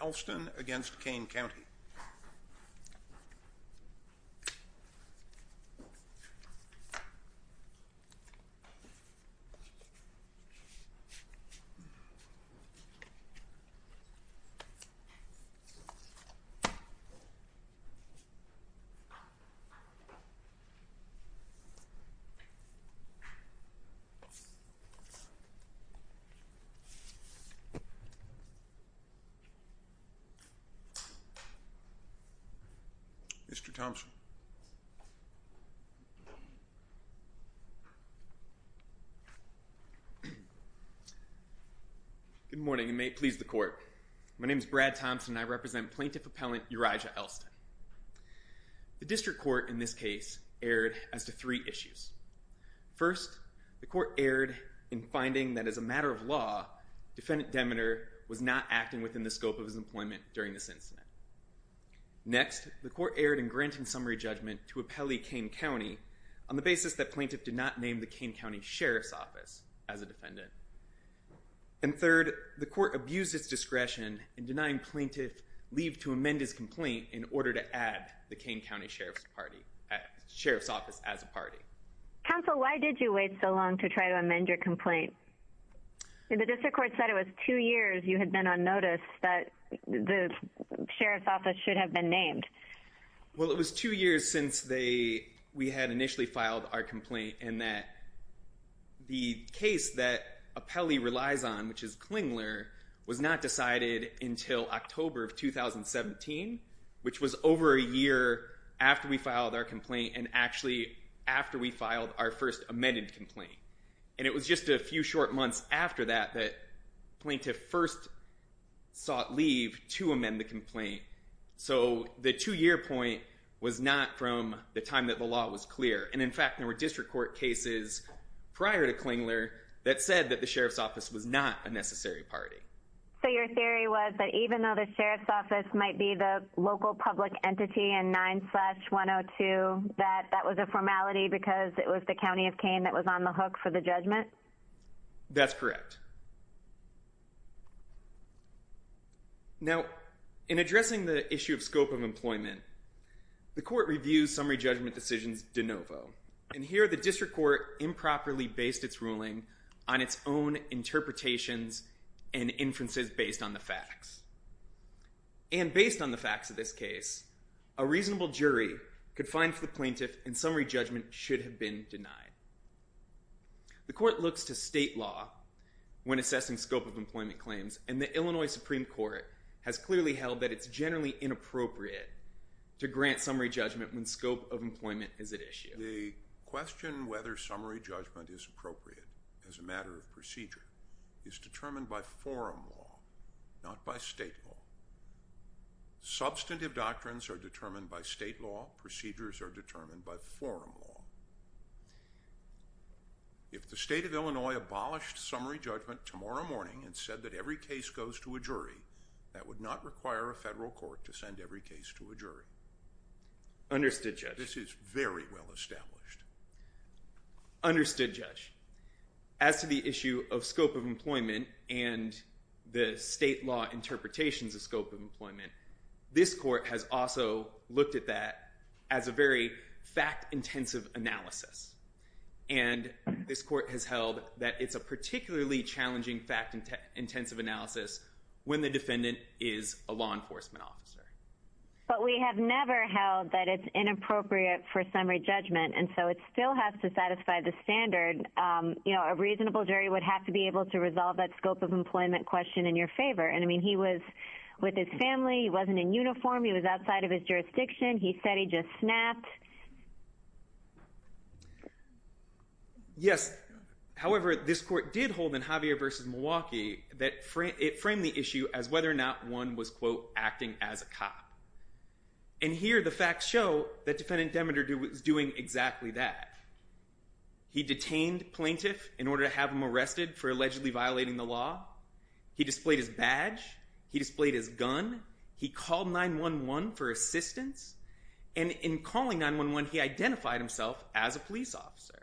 Elston v. County of Kane Mr. Thompson. Good morning and may it please the court. My name is Brad Thompson and I represent plaintiff appellant Urija Elston. The district court in this case erred as to three issues. First, the court erred in finding that as a matter of law, defendant Demeter was not acting within the scope of his employment during this incident. Next, the court erred in granting summary judgment to appellee Kane County on the basis that plaintiff did not name the Kane County Sheriff's Office as a defendant. And third, the court abused its discretion in denying plaintiff leave to amend his complaint in order to add the Kane County Sheriff's Office as a party. Counsel, why did you wait so long to try to amend your complaint? The district court said it was two years you had been on notice that the Sheriff's Office should have been named. Well, it was two years since we had initially filed our complaint and that the case that appellee relies on, which is Klingler, was not decided until October of 2017, which was over a year after we filed our complaint and actually after we filed our first amended complaint. And it was just a few short months after that that plaintiff first sought leave to amend the complaint. So the two-year point was not from the time that the law was clear. And in fact, there were district court cases prior to Klingler that said that the Sheriff's Office was not a necessary party. So your theory was that even though the Sheriff's Office might be the local public entity in 9-102, that that was a formality because it was the county of Kane that was on the hook for the judgment? That's correct. Now, in addressing the issue of scope of employment, the court reviews summary judgment decisions de novo. And here the district court improperly based its ruling on its own interpretations and inferences based on the facts. And based on the facts of this case, a reasonable jury could find for the plaintiff and summary judgment should have been denied. The court looks to state law when assessing scope of employment claims, and the Illinois Supreme Court has clearly held that it's generally inappropriate to grant summary judgment when scope of employment is at issue. The question whether summary judgment is appropriate as a matter of procedure is determined by forum law, not by state law. Substantive doctrines are determined by state law. Procedures are determined by forum law. If the state of Illinois abolished summary judgment tomorrow morning and said that every case goes to a jury, that would not require a federal court to send every case to a jury. Understood, Judge. This is very well established. Understood, Judge. As to the issue of scope of employment and the state law interpretations of scope of employment, this court has also looked at that as a very fact-intensive analysis. And this court has held that it's a particularly challenging fact-intensive analysis when the defendant is a law enforcement officer. But we have never held that it's inappropriate for summary judgment, and so it still has to satisfy the standard. A reasonable jury would have to be able to resolve that scope of employment question in your favor. And I mean, he was with his family. He wasn't in uniform. He was outside of his jurisdiction. He said he just snapped. Yes. However, this court did hold in Javier v. Milwaukee that it framed the issue as whether or not one was, quote, acting as a cop. And here, the facts show that Defendant Demeter was doing exactly that. He detained plaintiff in order to have him arrested for allegedly violating the law. He displayed his badge. He displayed his gun. He called 911 for assistance. And in calling 911, he identified himself as a police officer.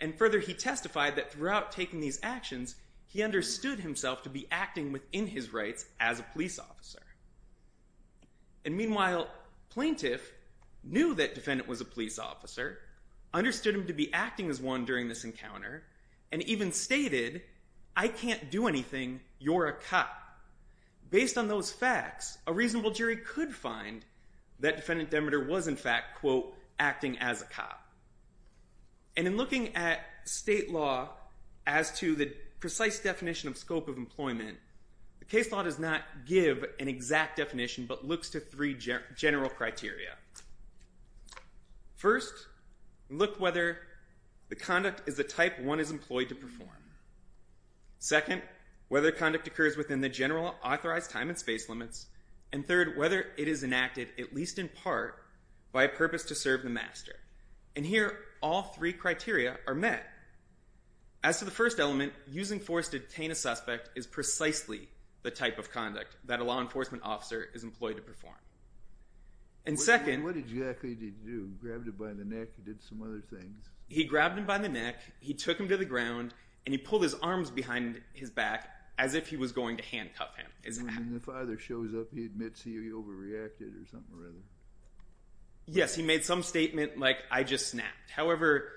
And further, he testified that throughout taking these actions, he understood himself to be acting within his rights as a police officer. And meanwhile, plaintiff knew that defendant was a police officer, understood him to be acting as one during this encounter, and even stated, I can't do anything. You're a cop. Based on those facts, a reasonable jury could find that Defendant Demeter was, in fact, quote, acting as a cop. And in looking at state law as to the precise definition of scope of employment, the case law does not give an exact definition but looks to three general criteria. First, look whether the conduct is the type one is employed to perform. Second, whether conduct occurs within the general authorized time and space limits. And third, whether it is enacted, at least in part, by a purpose to serve the master. And here, all three criteria are met. As to the first element, using force to detain a suspect is precisely the type of conduct that a law enforcement officer is employed to perform. And second, he grabbed him by the neck, he took him to the ground, and he pulled his arms behind his back as if he was going to handcuff him. When the father shows up, he admits he overreacted or something or other. Yes, he made some statement like, I just snapped. However,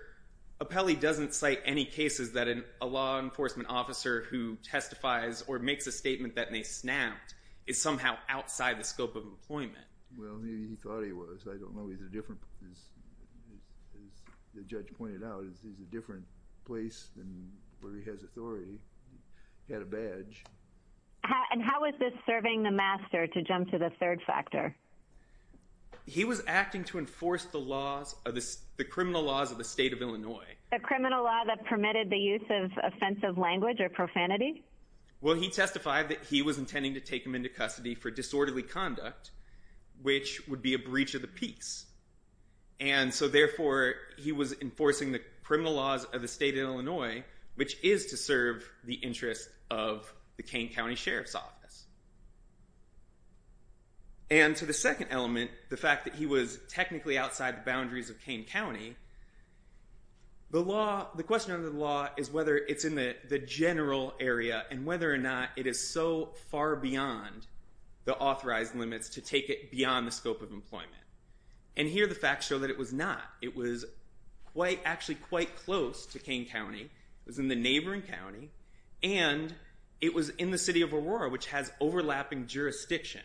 Apelli doesn't cite any cases that a law enforcement officer who testifies or makes a statement that they snapped is somehow outside the scope of employment. Well, maybe he thought he was. I don't know. He's a different, as the judge pointed out, he's a different place than where he has authority. He had a badge. And how is this serving the master, to jump to the third factor? He was acting to enforce the criminal laws of the state of Illinois. The criminal law that permitted the use of offensive language or profanity? Well, he testified that he was intending to take him into custody for disorderly conduct, which would be a breach of the peace. And so therefore, he was enforcing the criminal laws of the state of Illinois, which is to serve the interest of the Kane County Sheriff's Office. And to the second element, the fact that he was technically outside the boundaries of Kane County, the question under the law is whether it's in the general area and whether or not it is so far beyond the authorized limits to take it beyond the scope of employment. And here the facts show that it was not. It was actually quite close to Kane County. It was in the neighboring county. And it was in the city of Aurora, which has overlapping jurisdiction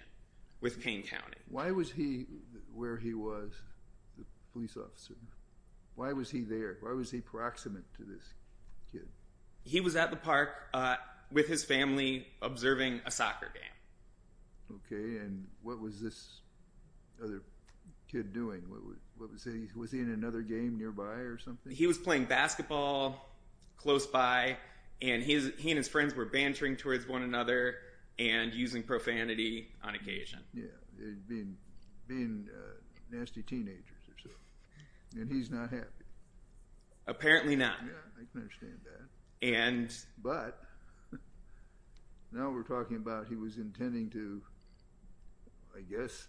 with Kane County. Why was he where he was, the police officer? Why was he there? Why was he proximate to this kid? He was at the park with his family observing a soccer game. Okay. And what was this other kid doing? Was he in another game nearby or something? He was playing basketball close by, and he and his friends were bantering towards one another and using profanity on occasion. Yeah. Being nasty teenagers or something. And he's not happy. Apparently not. But now we're talking about he was intending to, I guess,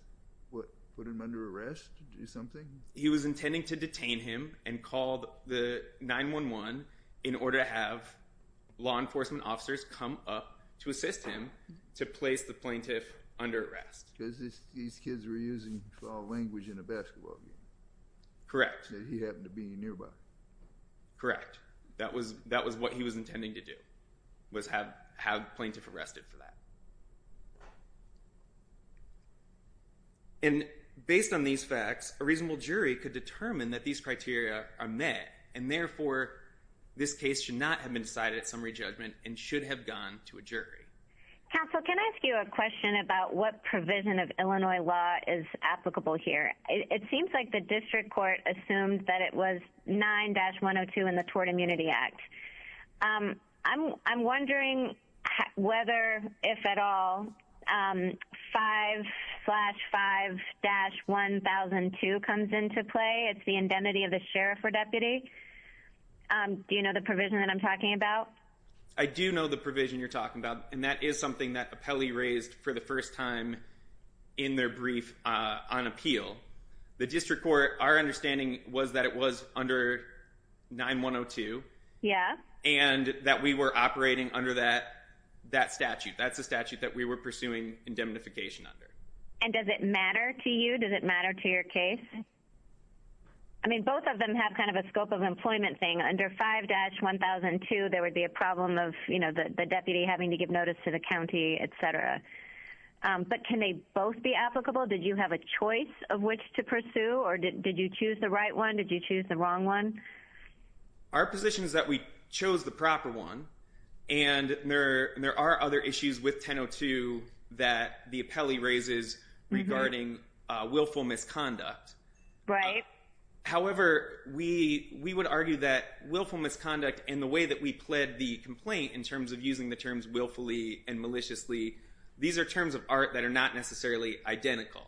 what, put him under arrest or something? He was intending to detain him and called the 911 in order to have law enforcement officers come up to assist him to place the plaintiff under arrest. Because these kids were using foul language in a basketball game. Correct. He happened to be nearby. Correct. That was what he was intending to do, was have the plaintiff arrested for that. And based on these facts, a reasonable jury could determine that these criteria are met and therefore this case should not have been decided at summary judgment and should have gone to a jury. Counsel, can I ask you a question about what provision of Illinois law is applicable here? It seems like the district court assumed that it was 9-102 in the Tort Immunity Act. I'm wondering whether, if at all, 5-5-1002 comes into play. It's the indemnity of the sheriff or deputy. Do you know the provision that I'm talking about? I do know the provision you're talking about. And that is something that Appelli raised for the first time in their brief on appeal. The district court, our understanding was that it was under 9-102. Yeah. And that we were operating under that statute. That's the statute that we were pursuing indemnification under. And does it matter to you? Does it matter to your case? I mean, both of them have kind of a scope of employment thing. Under 5-1002, there would be a problem of the deputy having to give notice to the county, etc. But can they both be applicable? Did you have a choice of which to pursue? Or did you choose the right one? Did you choose the wrong one? Our position is that we chose the proper one. And there are other issues with 10-102 that the Appelli raises regarding willful misconduct. Right. However, we would argue that willful misconduct and the way that we pled the complaint in terms of using the terms willfully and maliciously, these are terms of art that are not necessarily identical.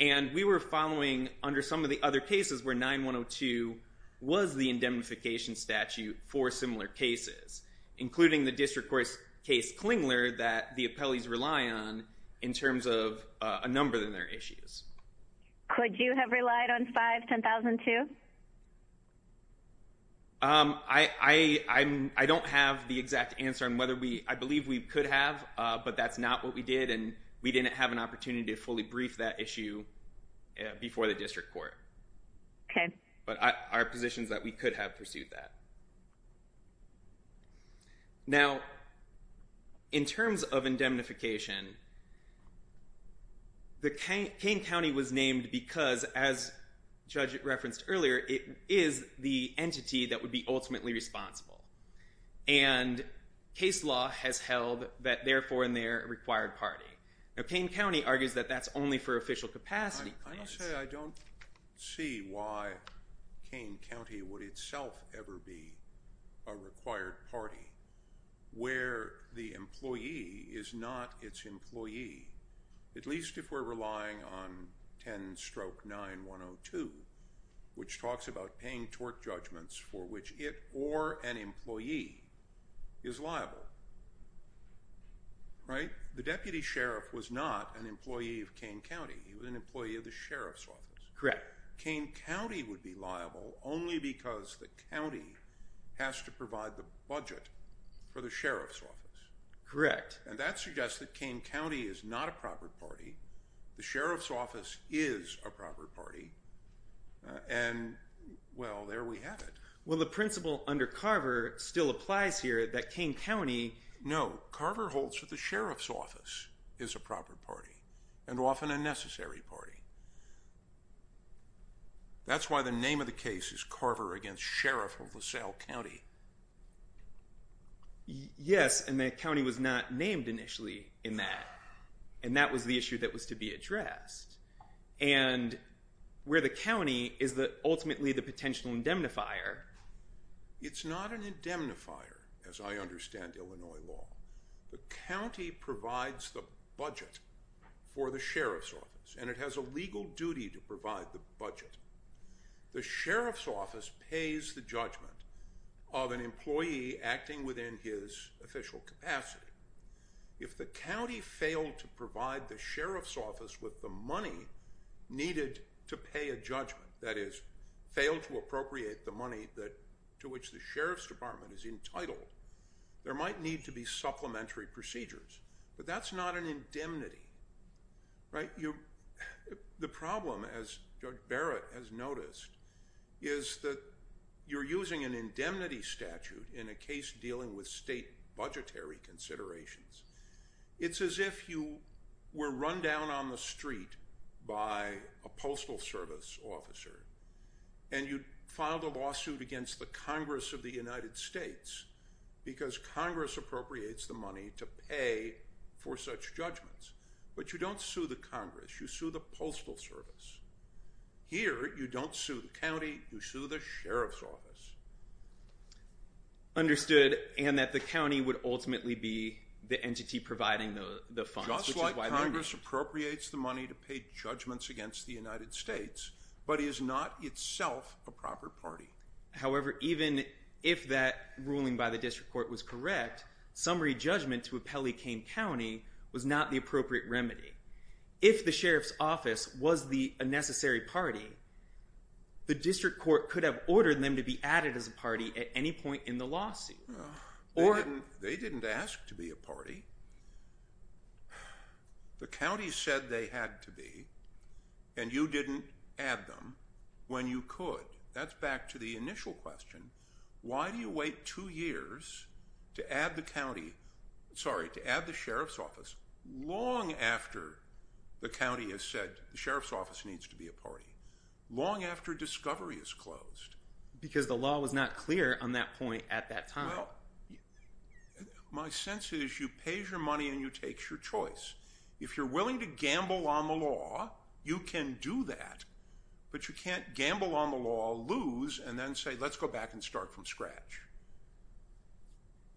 And we were following under some of the other cases where 9-102 was the indemnification statute for similar cases, including the district court case Klingler that the Appelli's rely on in terms of a number of their issues. Could you have relied on 5-1002? I don't have the exact answer on whether we—I believe we could have, but that's not what we did. And we didn't have an opportunity to fully brief that issue before the district court. Okay. But our position is that we could have pursued that. Now, in terms of indemnification, the Kane County was named because, as Judge referenced earlier, it is the entity that would be ultimately responsible. And case law has held that, therefore, in their required party. Now, Kane County argues that that's only for official capacity. Can you say I don't see why Kane County would itself ever be a required party where the employee is not its employee, at least if we're relying on 10-9102, which talks about paying tort judgments for which it or an employee is liable, right? The deputy sheriff was not an employee of Kane County. He was an employee of the sheriff's office. Correct. Kane County would be liable only because the county has to provide the budget for the sheriff's office. Correct. And that suggests that Kane County is not a proper party. The sheriff's office is a proper party. And, well, there we have it. Well, the principle under Carver still applies here, that Kane County— No. Carver holds that the sheriff's office is a proper party, and often a necessary party. That's why the name of the case is Carver v. Sheriff of LaSalle County. Yes, and the county was not named initially in that, and that was the issue that was to be addressed. And where the county is ultimately the potential indemnifier— It's not an indemnifier, as I understand Illinois law. The county provides the budget for the sheriff's office, and it has a legal duty to provide the budget. The sheriff's office pays the judgment of an employee acting within his official capacity. If the county failed to provide the sheriff's office with the money needed to pay a judgment, that is, failed to appropriate the money to which the sheriff's department is entitled, there might need to be supplementary procedures. But that's not an indemnity, right? The problem, as Judge Barrett has noticed, is that you're using an indemnity statute in a case dealing with state budgetary considerations. It's as if you were run down on the street by a Postal Service officer, and you filed a lawsuit against the Congress of the United States, because Congress appropriates the money to pay for such judgments. But you don't sue the Congress, you sue the Postal Service. Here, you don't sue the county, you sue the sheriff's office. Understood, and that the county would ultimately be the entity providing the funds, which is why— Just like Congress appropriates the money to pay judgments against the United States, but is not itself a proper party. However, even if that ruling by the district court was correct, summary judgment to appellee Kane County was not the appropriate remedy. If the sheriff's office was a necessary party, the district court could have ordered them to be added as a party at any point in the lawsuit. They didn't ask to be a party. The county said they had to be, and you didn't add them when you could. That's back to the initial question. Why do you wait two years to add the county— sorry, to add the sheriff's office long after the county has said the sheriff's office needs to be a party, long after discovery is closed? Because the law was not clear on that point at that time. Well, my sense is you pay your money and you take your choice. If you're willing to gamble on the law, you can do that, but you can't gamble on the law, lose, and then say, let's go back and start from scratch.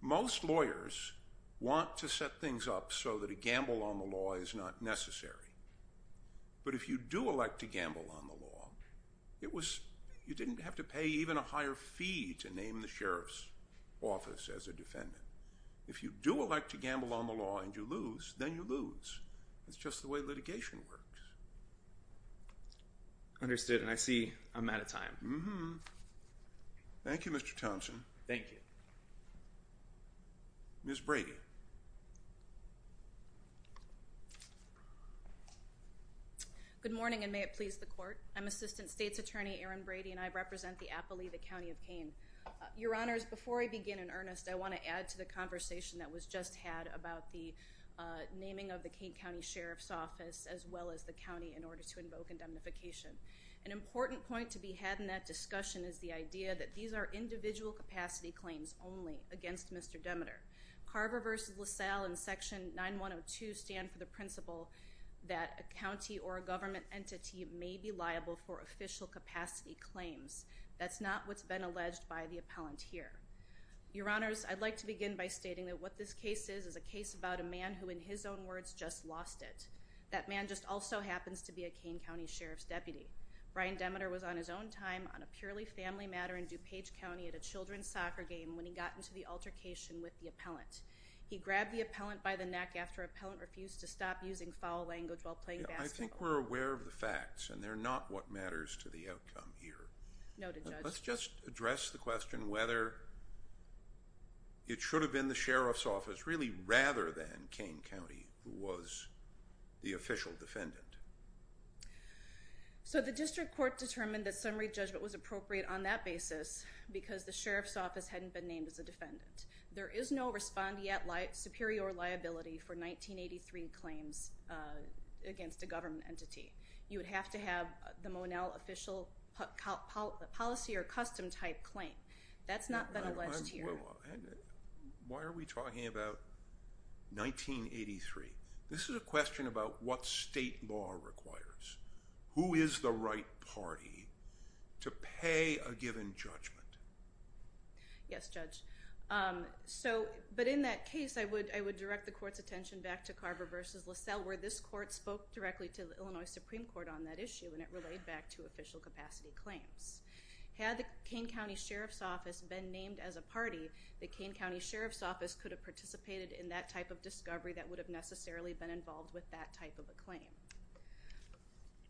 Most lawyers want to set things up so that a gamble on the law is not necessary. But if you do elect to gamble on the law, you didn't have to pay even a higher fee to name the sheriff's office as a defendant. If you do elect to gamble on the law and you lose, then you lose. That's just the way litigation works. Understood, and I see I'm out of time. Mm-hmm. Thank you, Mr. Thompson. Thank you. Ms. Brady. Good morning, and may it please the Court. I'm Assistant State's Attorney Erin Brady, and I represent the Appali the County of Kane. Your Honors, before I begin in earnest, I want to add to the conversation that was just had about the naming of the Kane County Sheriff's Office as well as the county in order to invoke indemnification. An important point to be had in that discussion is the idea that these are individual capacity claims only against Mr. Demeter. Carver v. LaSalle and Section 9102 stand for the principle that a county or a government entity may be liable for official capacity claims. That's not what's been alleged by the appellant here. Your Honors, I'd like to begin by stating that what this case is is a case about a man who, in his own words, just lost it. That man just also happens to be a Kane County Sheriff's deputy. Brian Demeter was on his own time on a purely family matter in DuPage County at a children's soccer game when he got into the altercation with the appellant. He grabbed the appellant by the neck after the appellant refused to stop using foul language while playing basketball. I think we're aware of the facts, and they're not what matters to the outcome here. Noted, Judge. Let's just address the question whether it should have been the Sheriff's Office really rather than Kane County, who was the official defendant. So the district court determined that summary judgment was appropriate on that basis because the Sheriff's Office hadn't been named as a defendant. There is no respondeat superior liability for 1983 claims against a government entity. You would have to have the Monell official policy or custom type claim. That's not been alleged here. Why are we talking about 1983? This is a question about what state law requires. Who is the right party to pay a given judgment? Yes, Judge. But in that case, I would direct the court's attention back to Carver v. LaSalle, where this court spoke directly to the Illinois Supreme Court on that issue, and it relayed back to official capacity claims. Had the Kane County Sheriff's Office been named as a party, the Kane County Sheriff's Office could have participated in that type of discovery that would have necessarily been involved with that type of a claim.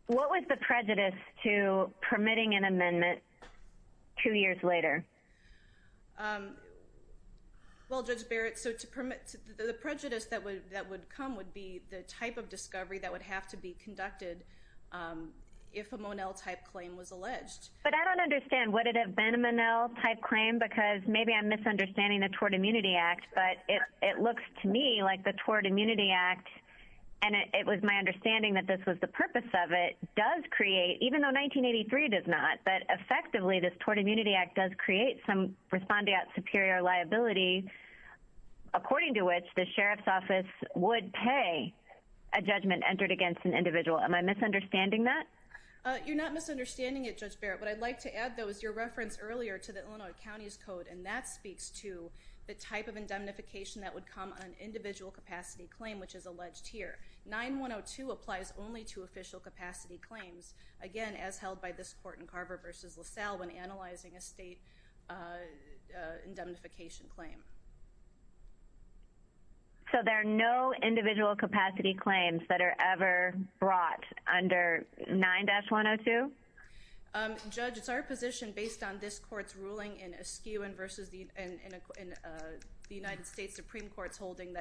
What was the prejudice to permitting an amendment two years later? Well, Judge Barrett, the prejudice that would come would be the type of discovery that would have to be conducted if a Monell type claim was alleged. But I don't understand. Would it have been a Monell type claim? Because maybe I'm misunderstanding the Tort Immunity Act, but it looks to me like the Tort Immunity Act, and it was my understanding that this was the purpose of it, does create, even though 1983 does not, but effectively this Tort Immunity Act does create some respondeat superior liability, according to which the Sheriff's Office would pay a judgment entered against an individual. Am I misunderstanding that? You're not misunderstanding it, Judge Barrett. What I'd like to add, though, is your reference earlier to the Illinois County's Code, and that speaks to the type of indemnification that would come on an individual capacity claim, which is alleged here. 9102 applies only to official capacity claims, again, as held by this court in Carver v. LaSalle when analyzing a state indemnification claim. So there are no individual capacity claims that are ever brought under 9-102? Judge, it's our position, based on this court's ruling in Askew that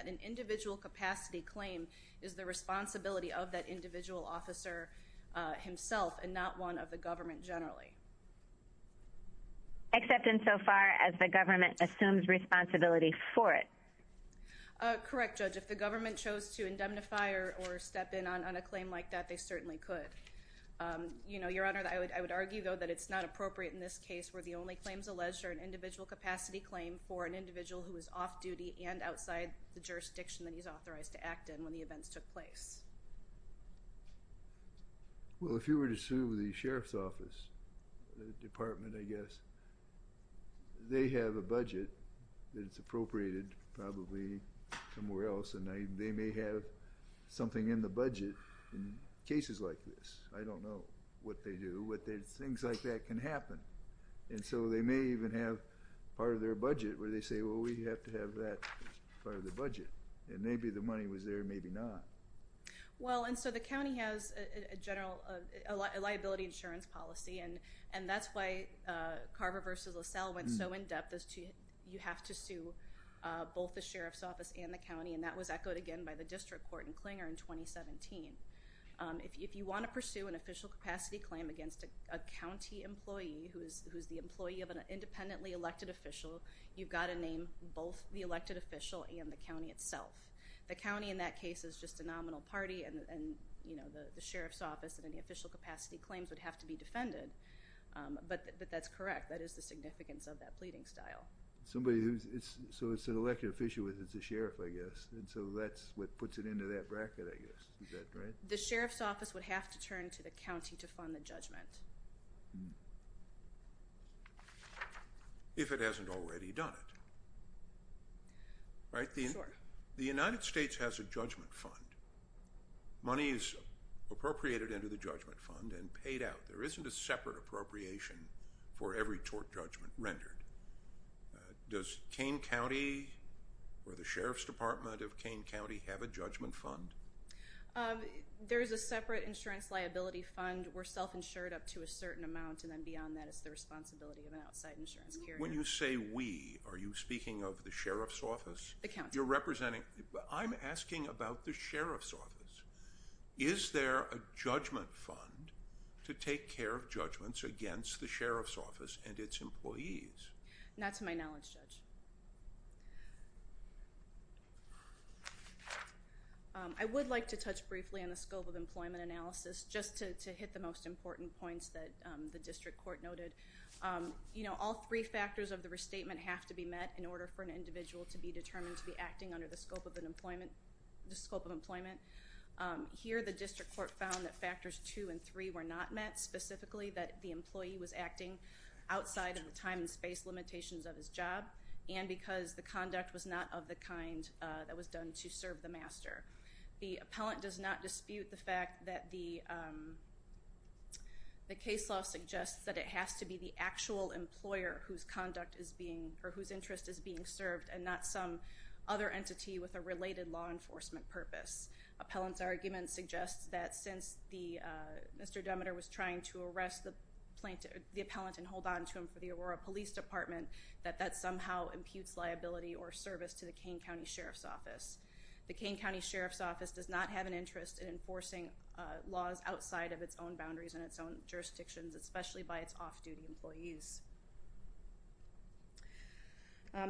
an individual capacity claim is the responsibility of that individual officer himself and not one of the government generally. Except insofar as the government assumes responsibility for it. Correct, Judge. If the government chose to indemnify or step in on a claim like that, they certainly could. Your Honor, I would argue, though, that it's not appropriate in this case where the only claims alleged are an individual capacity claim for an individual who is off-duty and outside the jurisdiction that he's authorized to act in when the events took place. Well, if you were to sue the Sheriff's Office, the department, I guess, they have a budget that's appropriated probably somewhere else, and they may have something in the budget in cases like this. I don't know what they do, but things like that can happen. And so they may even have part of their budget where they say, well, we have to have that part of the budget. And maybe the money was there, maybe not. Well, and so the county has a general liability insurance policy, and that's why Carver v. LaSalle went so in-depth as to you have to sue both the Sheriff's Office and the county, and that was echoed again by the district court in Klinger in 2017. If you want to pursue an official capacity claim against a county employee who is the employee of an independently elected official, you've got to name both the elected official and the county itself. The county in that case is just a nominal party, and the Sheriff's Office and any official capacity claims would have to be defended. But that's correct. That is the significance of that pleading style. So it's an elected official, it's a sheriff, I guess. And so that's what puts it into that bracket, I guess. Is that right? The Sheriff's Office would have to turn to the county to fund the judgment. If it hasn't already done it, right? Sure. The United States has a judgment fund. Money is appropriated into the judgment fund and paid out. There isn't a separate appropriation for every tort judgment rendered. Does Kane County, or the Sheriff's Department of Kane County, have a judgment fund? There is a separate insurance liability fund. We're self-insured up to a certain amount, and then beyond that is the responsibility of an outside insurance carrier. When you say we, are you speaking of the Sheriff's Office? The county. I'm asking about the Sheriff's Office. Is there a judgment fund to take care of judgments against the Sheriff's Office and its employees? Not to my knowledge, Judge. I would like to touch briefly on the scope of employment analysis, just to hit the most important points that the district court noted. All three factors of the restatement have to be met in order for an individual to be determined to be acting under the scope of employment. Here, the district court found that factors two and three were not met, specifically that the employee was acting outside of the time and space limitations of his job, and because the conduct was not of the kind that was done to serve the master. The appellant does not dispute the fact that the case law suggests that it has to be the actual employer whose conduct is being, or whose interest is being served, and not some other entity with a related law enforcement purpose. Appellant's argument suggests that since Mr. Demeter was trying to arrest the appellant and hold on to him for the Aurora Police Department, that that somehow imputes liability or service to the Kane County Sheriff's Office. The Kane County Sheriff's Office does not have an interest in enforcing laws outside of its own boundaries and its own jurisdictions, especially by its off-duty employees.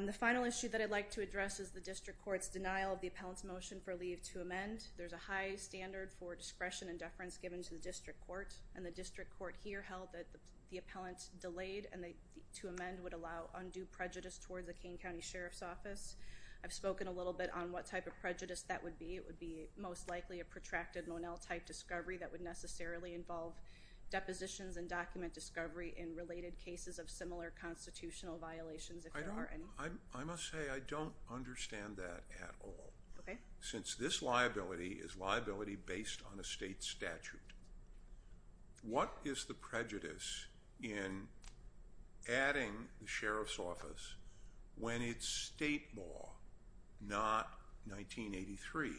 The final issue that I'd like to address is the district court's denial of the appellant's motion for leave to amend. There's a high standard for discretion and deference given to the district court, and the district court here held that the appellant delayed and to amend would allow undue prejudice towards the Kane County Sheriff's Office. I've spoken a little bit on what type of prejudice that would be. It would be most likely a protracted Monell-type discovery that would necessarily involve depositions and document discovery in related cases of similar constitutional violations, if there are any. I must say I don't understand that at all. Since this liability is liability based on a state statute, what is the prejudice in adding the Sheriff's Office when it's state law, not 1983,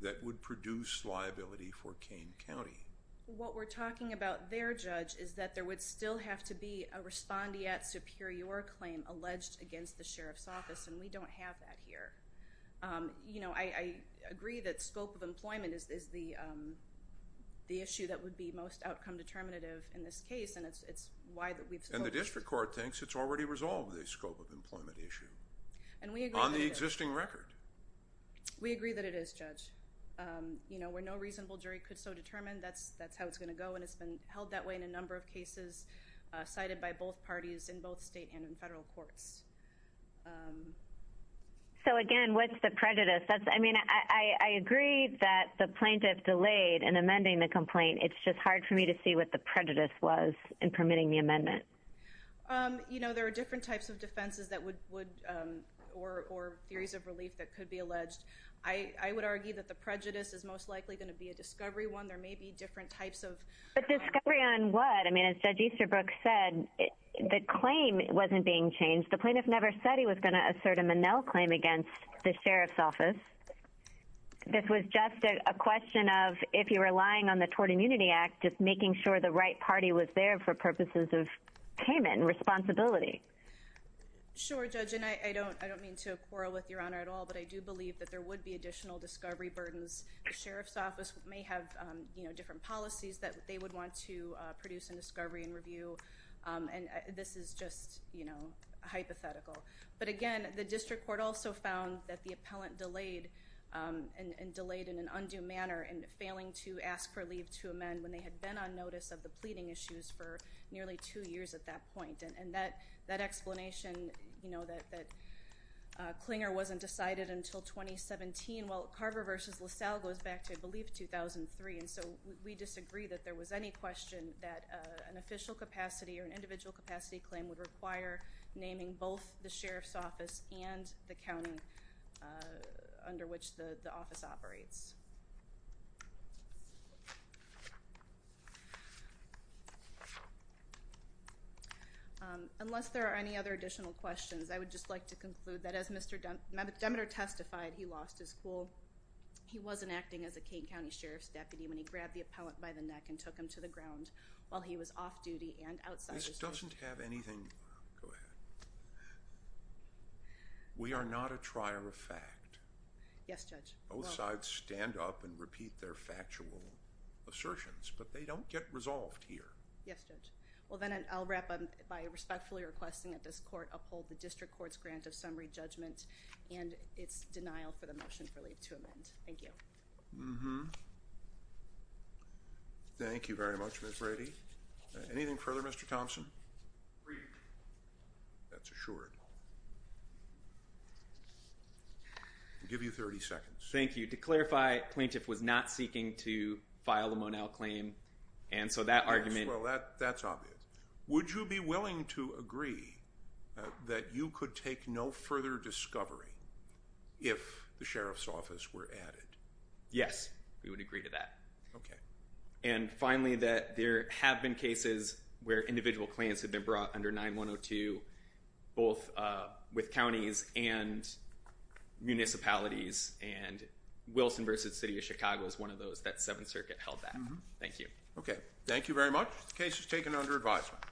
that would produce liability for Kane County? What we're talking about there, Judge, is that there would still have to be a respondeat superior claim alleged against the Sheriff's Office, and we don't have that here. You know, I agree that scope of employment is the issue that would be most outcome determinative in this case, and it's why that we've spoken. And the district court thinks it's already resolved, the scope of employment issue, on the existing record. We agree that it is, Judge. You know, where no reasonable jury could so determine, that's how it's going to go, and it's been held that way in a number of cases cited by both parties in both state and in federal courts. So again, what's the prejudice? I mean, I agree that the plaintiff delayed in amending the complaint. It's just hard for me to see what the prejudice was in permitting the amendment. You know, there are different types of defenses or theories of relief that could be alleged. I would argue that the prejudice is most likely going to be a discovery one. There may be different types of... But discovery on what? I mean, as Judge Easterbrook said, the claim wasn't being changed. The plaintiff never said he was going to assert a Monell claim against the Sheriff's Office. This was just a question of, if you're relying on the Tort Immunity Act, just making sure the right party was there for purposes of payment and responsibility. Sure, Judge, and I don't mean to quarrel with Your Honor at all, but I do believe that there would be additional discovery burdens. The Sheriff's Office may have, you know, different policies that they would want to produce in discovery and review, and this is just, you know, hypothetical. But again, the district court also found that the appellant delayed and delayed in an undue manner in failing to ask for leave to amend when they had been on notice of the pleading issues for nearly two years at that point. And that explanation, you know, that Clinger wasn't decided until 2017, while Carver v. LaSalle goes back to, I believe, 2003. And so we disagree that there was any question that an official capacity or an individual capacity claim would require naming both the Sheriff's Office and the county under which the office operates. Unless there are any other additional questions, I would just like to conclude that as Mr. Demeter testified, he lost his cool. He wasn't acting as a Kane County Sheriff's deputy when he grabbed the appellant by the neck and took him to the ground while he was off duty and outside his duty. This doesn't have anything—go ahead. We are not a trier of fact. Yes, Judge. Both sides stand up and repeat their factual assertions, but they don't get resolved here. Yes, Judge. Well, then I'll wrap up by respectfully requesting that this court uphold the district court's grant of summary judgment and its denial for the motion for leave to amend. Thank you. Thank you very much, Ms. Brady. Anything further, Mr. Thompson? Agreed. That's assured. I'll give you 30 seconds. Thank you. To clarify, plaintiff was not seeking to file a Monell claim, and so that argument— Well, that's obvious. Would you be willing to agree that you could take no further discovery if the sheriff's office were added? Yes, we would agree to that. Okay. And finally, that there have been cases where individual claims have been brought under 9-102, both with counties and municipalities, and Wilson v. City of Chicago is one of those that Seventh Circuit held back. Thank you. Okay. Thank you very much. The case is taken under advisement.